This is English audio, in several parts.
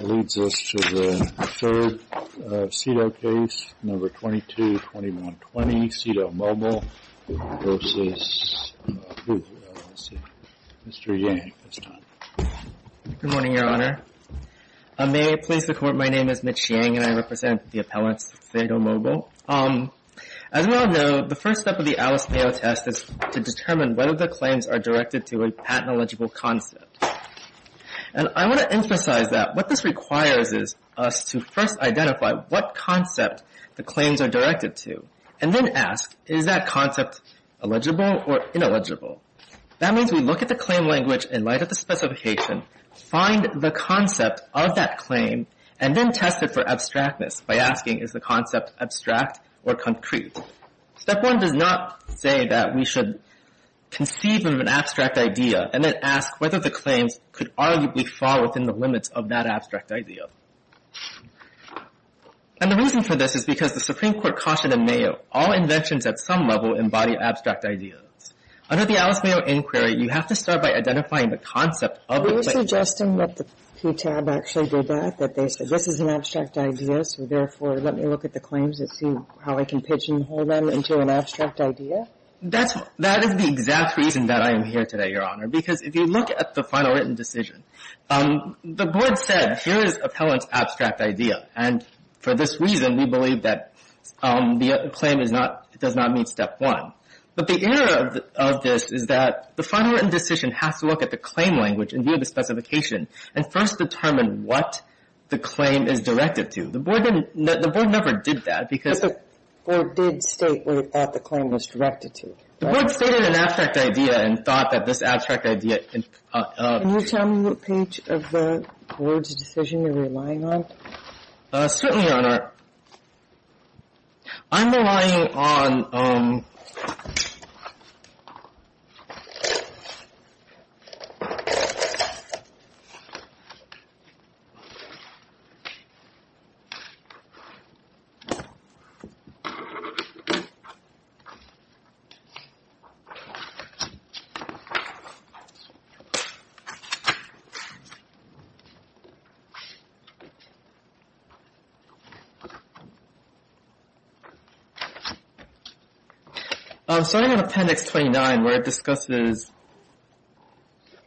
That leads us to the third SITO case, No. 22-2120, SITO Mobile v. Hulu, LLC. Mr. Yang, it's time. Good morning, Your Honor. May it please the Court, my name is Mitch Yang, and I represent the appellants at SITO Mobile. As we all know, the first step of the Alice Mayo test is to determine whether the claims are directed to a patent-eligible concept. And I want to emphasize that what this requires is us to first identify what concept the claims are directed to, and then ask, is that concept eligible or ineligible? That means we look at the claim language in light of the specification, find the concept of that claim, and then test it for abstractness by asking, is the concept abstract or concrete? Step one does not say that we should conceive of an abstract idea and then ask whether the claims could arguably fall within the limits of that abstract idea. And the reason for this is because the Supreme Court cautioned in Mayo, all inventions at some level embody abstract ideas. Under the Alice Mayo inquiry, you have to start by identifying the concept of the claim. Are you suggesting that the PTAB actually did that, that they said, this is an abstract idea, so therefore let me look at the claims and see how I can pigeonhole them into an abstract idea? That is the exact reason that I am here today, Your Honor, because if you look at the final written decision, the board said, here is appellant's abstract idea. And for this reason, we believe that the claim does not meet step one. But the error of this is that the final written decision has to look at the claim language in view of the specification and first determine what the claim is directed to. The board never did that because... But the board did state what it thought the claim was directed to. The board stated an abstract idea and thought that this abstract idea... Can you tell me what page of the board's decision you're relying on? Certainly, Your Honor. I'm relying on... Starting with Appendix 29, where it discusses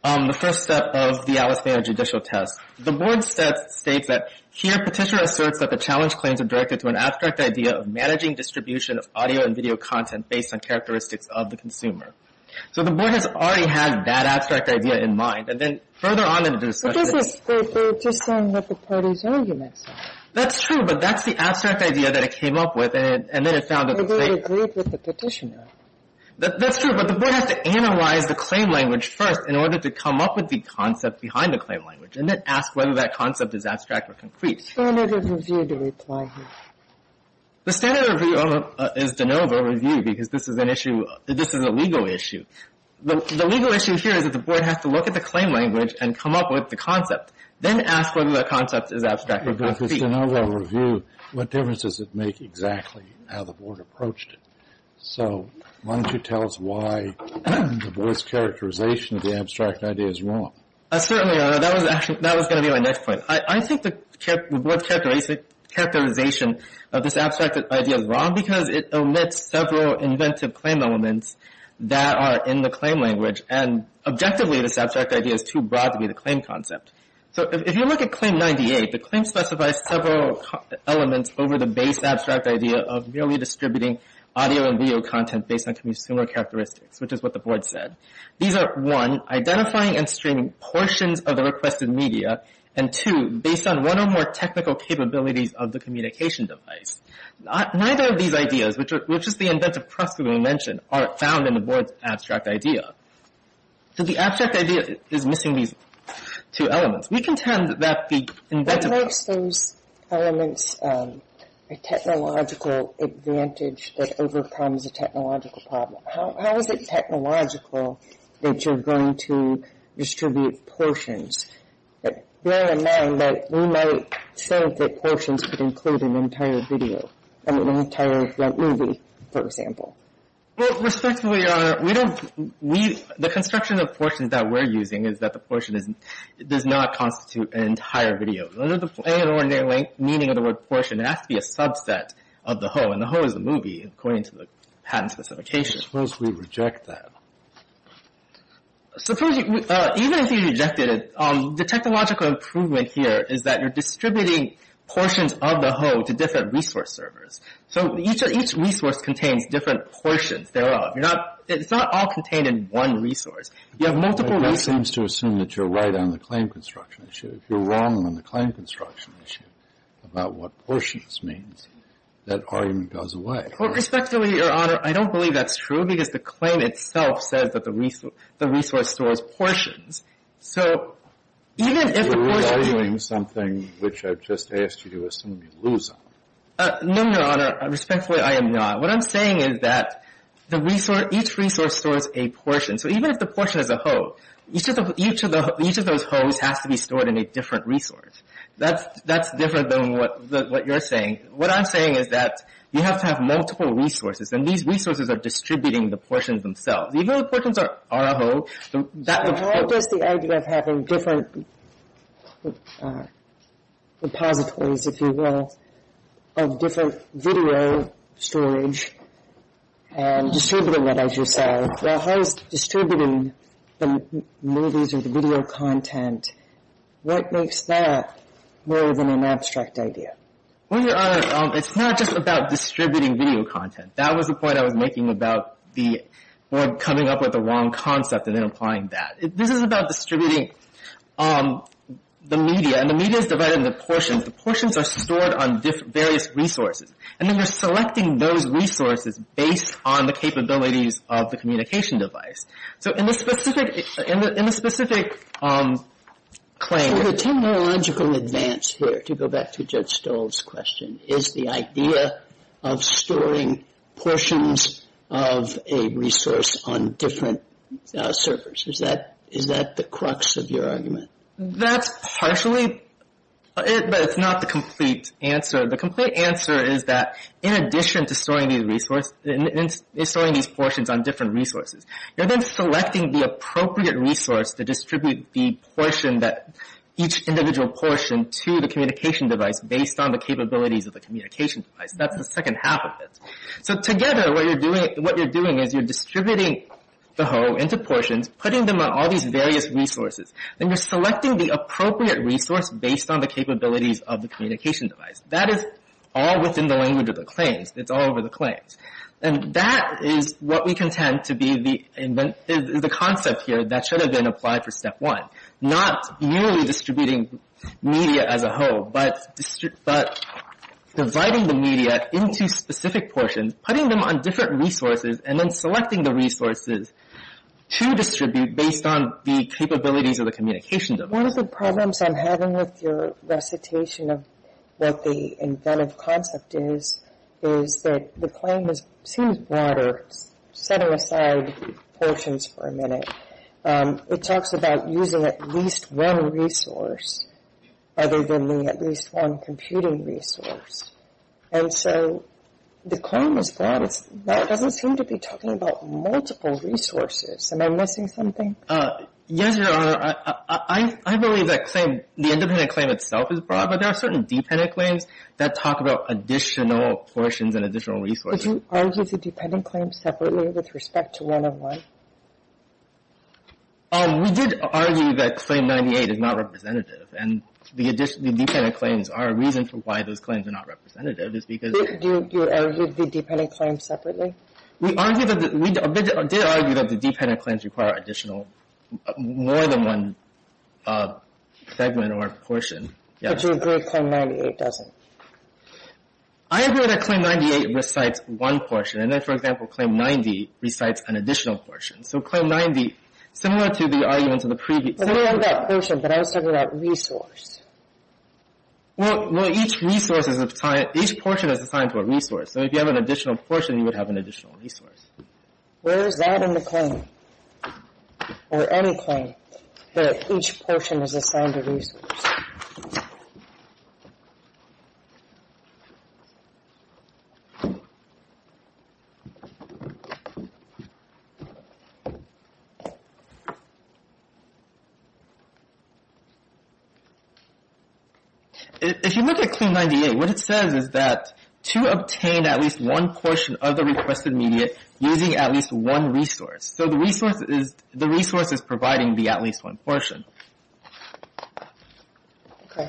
the first step of the Alistair Judicial Test, the board states that here Petitioner asserts that the challenge claims are directed to an abstract idea of managing distribution of audio and video content based on characteristics of the consumer. So the board has already had that abstract idea in mind. And then further on in the discussion... But this is just saying what the parties' arguments are. That's true, but that's the abstract idea that it came up with, and then it found a... But it agreed with the Petitioner. That's true, but the board has to analyze the claim language first in order to come up with the concept behind the claim language and then ask whether that concept is abstract or concrete. Standard of review to reply here. The standard of review is de novo review because this is an issue, this is a legal issue. The legal issue here is that the board has to look at the claim language and come up with the concept, then ask whether the concept is abstract or concrete. But the standard of review, what difference does it make exactly how the board approached it? So why don't you tell us why the board's characterization of the abstract idea is wrong. Certainly, that was going to be my next point. I think the board's characterization of this abstract idea is wrong because it omits several inventive claim elements that are in the claim language. And objectively, this abstract idea is too broad to be the claim concept. So if you look at Claim 98, the claim specifies several elements over the base abstract idea of merely distributing audio and video content based on consumer characteristics, which is what the board said. These are, one, identifying and streaming portions of the requested media, and two, based on one or more technical capabilities of the communication device. Neither of these ideas, which is the inventive precedent we mentioned, are found in the board's abstract idea. So the abstract idea is missing these two elements. We contend that the inventive... What makes those elements a technological advantage that overcomes a technological problem? How is it technological that you're going to distribute portions? Bear in mind that we might say that portions could include an entire video, an entire movie, for example. Well, respectfully, Your Honor, we don't... The construction of portions that we're using is that the portion does not constitute an entire video. Under the plain and ordinary meaning of the word portion, it has to be a subset of the whole. And the whole is the movie, according to the patent specification. Suppose we reject that. Suppose you... Even if you rejected it, the technological improvement here is that you're distributing portions of the whole to different resource servers. So each resource contains different portions thereof. You're not... It's not all contained in one resource. You have multiple... That seems to assume that you're right on the claim construction issue. If you're wrong on the claim construction issue about what portions means, that argument goes away. Respectfully, Your Honor, I don't believe that's true because the claim itself says that the resource stores portions. So even if the portion... You're re-arguing something which I've just asked you to assume you lose on. No, Your Honor. Respectfully, I am not. What I'm saying is that the resource... Each resource stores a portion. So even if the portion is a whole, each of those wholes has to be stored in a different resource. That's different than what you're saying. What I'm saying is that you have to have multiple resources. And these resources are distributing the portions themselves. Even if the portions are a whole, that would... How does the idea of having different repositories, if you will, of different video storage and distributing that, as you say... Well, how is distributing the movies or the video content... What makes that more than an abstract idea? Well, Your Honor, it's not just about distributing video content. That was the point I was making about the board coming up with the wrong concept and then applying that. This is about distributing the media, and the media is divided into portions. The portions are stored on various resources. And then we're selecting those resources based on the capabilities of the communication device. So in the specific claim... So the technological advance here, to go back to Judge Stoll's question, is the idea of storing portions of a resource on different servers. Is that the crux of your argument? That's partially, but it's not the complete answer. The complete answer is that in addition to storing these portions on different resources, you're then selecting the appropriate resource to distribute the portion, each individual portion, to the communication device based on the capabilities of the communication device. That's the second half of it. So together, what you're doing is you're distributing the whole into portions, putting them on all these various resources, and you're selecting the appropriate resource based on the capabilities of the communication device. That is all within the language of the claims. It's all over the claims. And that is what we contend to be the concept here that should have been applied for Step 1. Not merely distributing media as a whole, but dividing the media into specific portions, putting them on different resources, and then selecting the resources to distribute based on the capabilities of the communication device. One of the problems I'm having with your recitation of what the inventive concept is, is that the claim seems broader, setting aside portions for a minute. It talks about using at least one resource other than the at least one computing resource. And so the claim is that it doesn't seem to be talking about multiple resources. Am I missing something? Yes, Your Honor. I believe that the independent claim itself is broad, but there are certain dependent claims that talk about additional portions and additional resources. Did you argue the dependent claim separately with respect to 101? We did argue that Claim 98 is not representative. And the dependent claims are a reason for why those claims are not representative. Do you argue the dependent claims separately? We did argue that the dependent claims require additional, more than one segment or portion. But you agree that Claim 98 doesn't? I agree that Claim 98 recites one portion. And then, for example, Claim 90 recites an additional portion. So Claim 90, similar to the arguments of the previous— But I don't have that portion, but I was talking about resource. Well, each resource is assigned—each portion is assigned to a resource. So if you have an additional portion, you would have an additional resource. Where is that in the claim, or any claim, that each portion is assigned a resource? If you look at Claim 98, what it says is that, to obtain at least one portion of the requested media using at least one resource. So the resource is providing the at least one portion. Okay.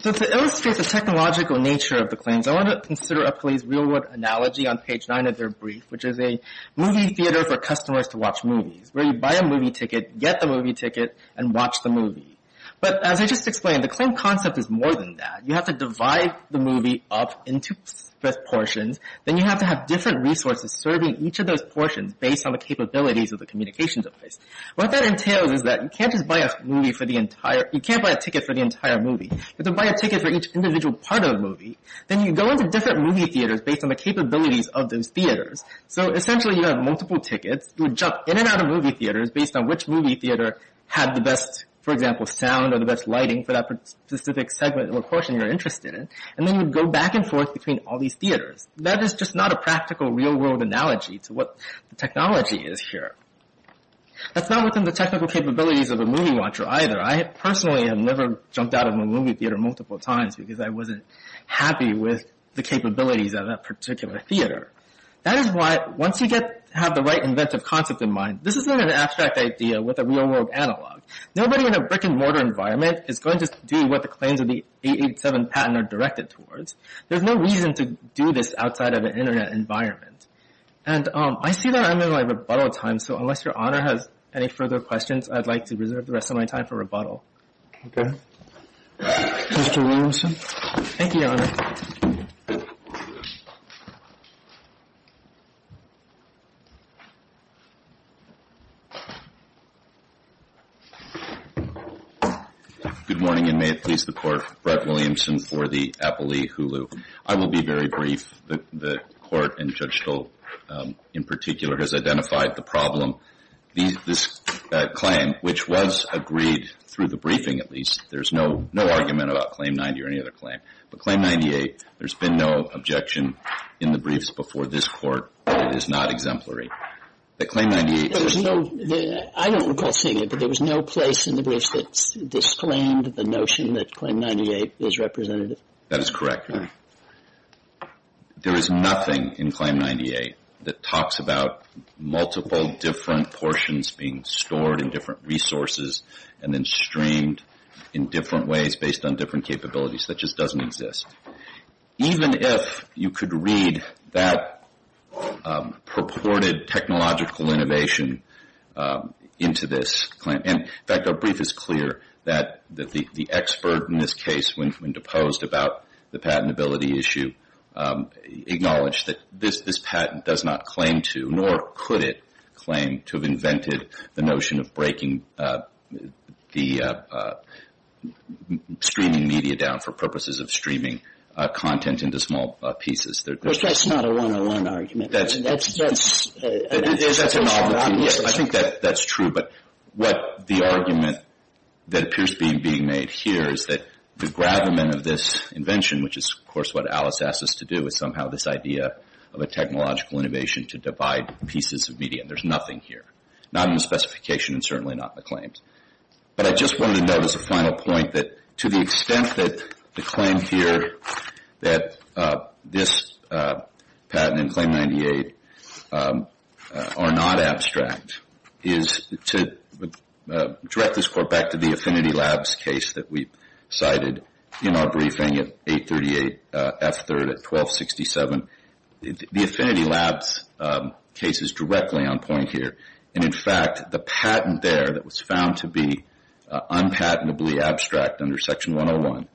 So to illustrate the technological nature of the claims, I want to consider a police-real world analogy on page 9 of their brief, which is a movie theater for customers to watch movies, where you buy a movie ticket, get the movie ticket, and watch the movie. But as I just explained, the claim concept is more than that. You have to divide the movie up into portions. Then you have to have different resources serving each of those portions, based on the capabilities of the communication device. What that entails is that you can't just buy a movie for the entire— you can't buy a ticket for the entire movie. You have to buy a ticket for each individual part of the movie. Then you go into different movie theaters based on the capabilities of those theaters. So essentially, you have multiple tickets. You would jump in and out of movie theaters based on which movie theater had the best, for example, sound or the best lighting for that specific segment or portion you're interested in. And then you would go back and forth between all these theaters. That is just not a practical real-world analogy to what the technology is here. That's not within the technical capabilities of a movie watcher either. I personally have never jumped out of a movie theater multiple times because I wasn't happy with the capabilities of that particular theater. That is why, once you have the right inventive concept in mind, this isn't an abstract idea with a real-world analog. Nobody in a brick-and-mortar environment is going to do what the claims of the 887 patent are directed towards. There's no reason to do this outside of an Internet environment. And I see that I'm in my rebuttal time, so unless Your Honor has any further questions, I'd like to reserve the rest of my time for rebuttal. Okay. Mr. Williamson. Thank you, Your Honor. Good morning, and may it please the Court. Brett Williamson for the Appley Hulu. I will be very brief. The Court, and Judge Stolt in particular, has identified the problem. This claim, which was agreed through the briefing at least, there's no argument about Claim 90 or any other claim. But Claim 98, there's been no objection in the briefs before this Court. It is not exemplary. I don't recall seeing it, but there was no place in the briefs that disclaimed the notion that Claim 98 is representative. That is correct. There is nothing in Claim 98 that talks about multiple different portions being stored in different resources and then streamed in different ways based on different capabilities. That just doesn't exist. Even if you could read that purported technological innovation into this claim, and in fact our brief is clear that the expert in this case, when deposed about the patentability issue, acknowledged that this patent does not claim to, nor could it claim to have invented the notion of breaking the streaming media down for purposes of streaming content into small pieces. That's not a one-on-one argument. I think that's true, but what the argument that appears to be being made here is that the gravamen of this invention, which is of course what Alice asked us to do, was somehow this idea of a technological innovation to divide pieces of media. There's nothing here. Not in the specification and certainly not in the claims. But I just wanted to note as a final point that to the extent that the claim here, that this patent and Claim 98 are not abstract, is to direct this court back to the Affinity Labs case that we cited in our briefing at 838 F3rd at 1267, the Affinity Labs case is directly on point here. In fact, the patent there that was found to be unpatentably abstract under Section 101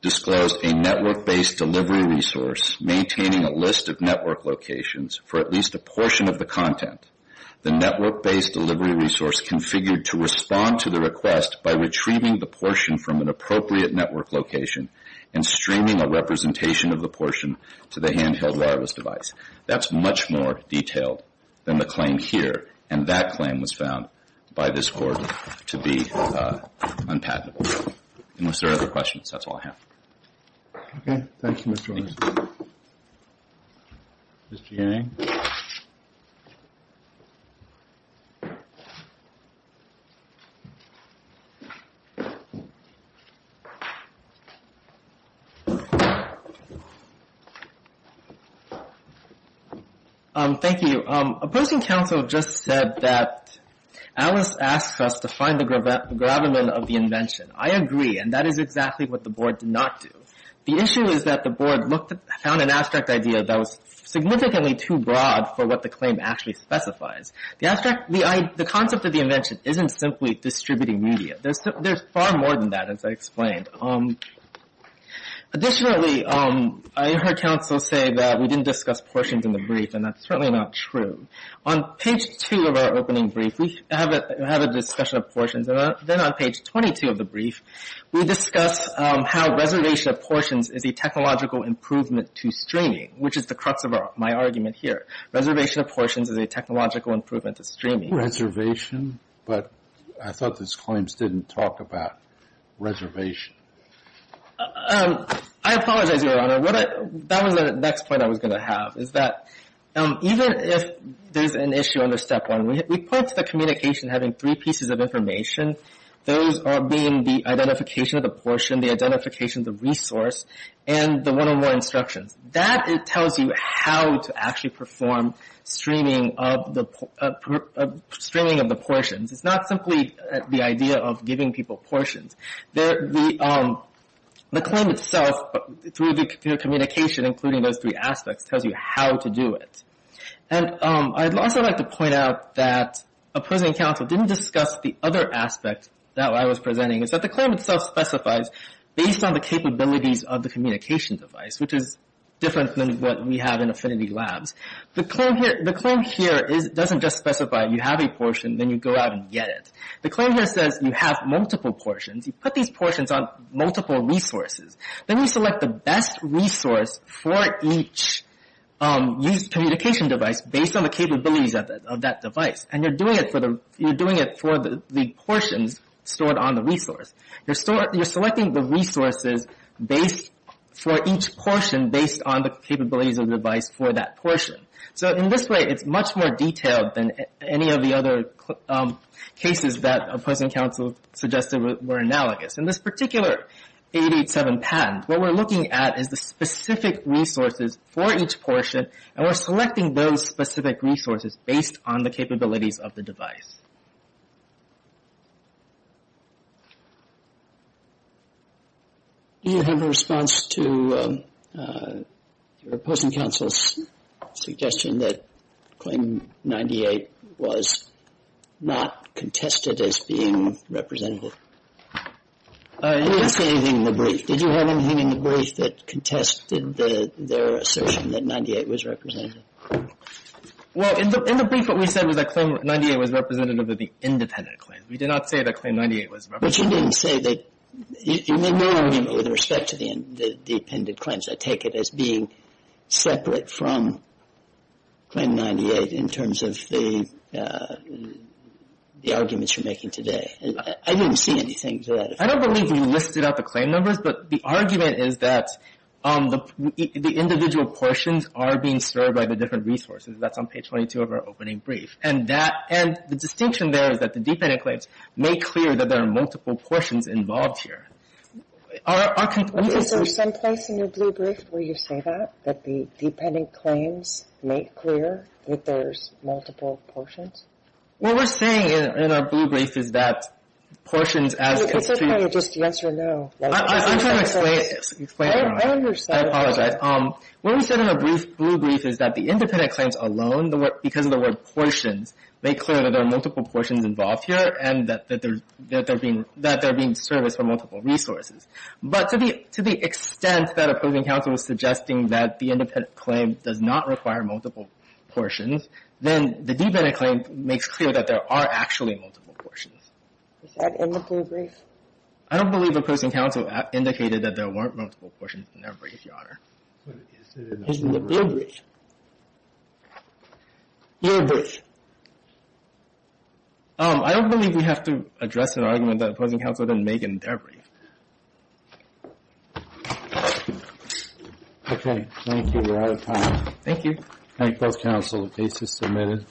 disclosed a network-based delivery resource maintaining a list of network locations for at least a portion of the content. The network-based delivery resource configured to respond to the request by retrieving the portion from an appropriate network location and streaming a representation of the portion to the handheld wireless device. That's much more detailed than the claim here, and that claim was found by this court to be unpatentable. Unless there are other questions, that's all I have. Okay. Thank you, Mr. Horowitz. Mr. Yang? Thank you. Opposing counsel just said that Alice asked us to find the gravamen of the invention. I agree, and that is exactly what the Board did not do. The issue is that the Board found an abstract idea that was significantly too broad for what the claim actually specifies. The concept of the invention isn't simply distributing media. There's far more than that, as I explained. Additionally, I heard counsel say that we didn't discuss portions in the brief, and that's certainly not true. On page 2 of our opening brief, we have a discussion of portions. Then on page 22 of the brief, we discuss how reservation of portions is a technological improvement to streaming, which is the crux of my argument here. Reservation of portions is a technological improvement to streaming. Reservation? But I thought those claims didn't talk about reservation. I apologize, Your Honor. That was the next point I was going to have, is that even if there's an issue under Step 1, we point to the communication having three pieces of information, those being the identification of the portion, the identification of the resource, and the one-on-one instructions. That tells you how to actually perform streaming of the portions. It's not simply the idea of giving people portions. The claim itself, through the communication, including those three aspects, tells you how to do it. And I'd also like to point out that opposing counsel didn't discuss the other aspect that I was presenting, is that the claim itself specifies, based on the capabilities of the communication device, which is different than what we have in Affinity Labs, the claim here doesn't just specify you have a portion, then you go out and get it. The claim here says you have multiple portions. You put these portions on multiple resources. Then you select the best resource for each used communication device based on the capabilities of that device. And you're doing it for the portions stored on the resource. You're selecting the resources for each portion based on the capabilities of the device for that portion. So in this way, it's much more detailed than any of the other cases that opposing counsel suggested were analogous. In this particular 887 patent, what we're looking at is the specific resources for each portion, and we're selecting those specific resources based on the capabilities of the device. Do you have a response to opposing counsel's suggestion that claim 98 was not contested as being representable? Did you have anything in the brief that contested their assertion that 98 was representative? Well, in the brief, what we said was that claim 98 was representative of the independent claim. We did not say that claim 98 was representative. But you didn't say that you made no argument with respect to the appended claims. I take it as being separate from claim 98 in terms of the arguments you're making today. I didn't see anything to that effect. I don't believe you listed out the claim numbers, but the argument is that the individual portions are being served by the different resources. That's on page 22 of our opening brief. And the distinction there is that the dependent claims make clear that there are multiple portions involved here. Is there some place in your blue brief where you say that, that the dependent claims make clear that there's multiple portions? What we're saying in our blue brief is that portions as construed — Could you just answer no? I'm trying to explain it. I understand. I apologize. What we said in our blue brief is that the independent claims alone, because of the word portions, make clear that there are multiple portions involved here and that they're being serviced from multiple resources. But to the extent that approving counsel was suggesting that the independent claim does not require multiple portions, then the dependent claim makes clear that there are actually multiple portions. Is that in the blue brief? I don't believe opposing counsel indicated that there weren't multiple portions in their brief, Your Honor. Isn't it in the blue brief? Blue brief. I don't believe we have to address an argument that opposing counsel didn't make in their brief. Okay. Thank you. We're out of time. Thank you. Thank both counsel. The case is submitted.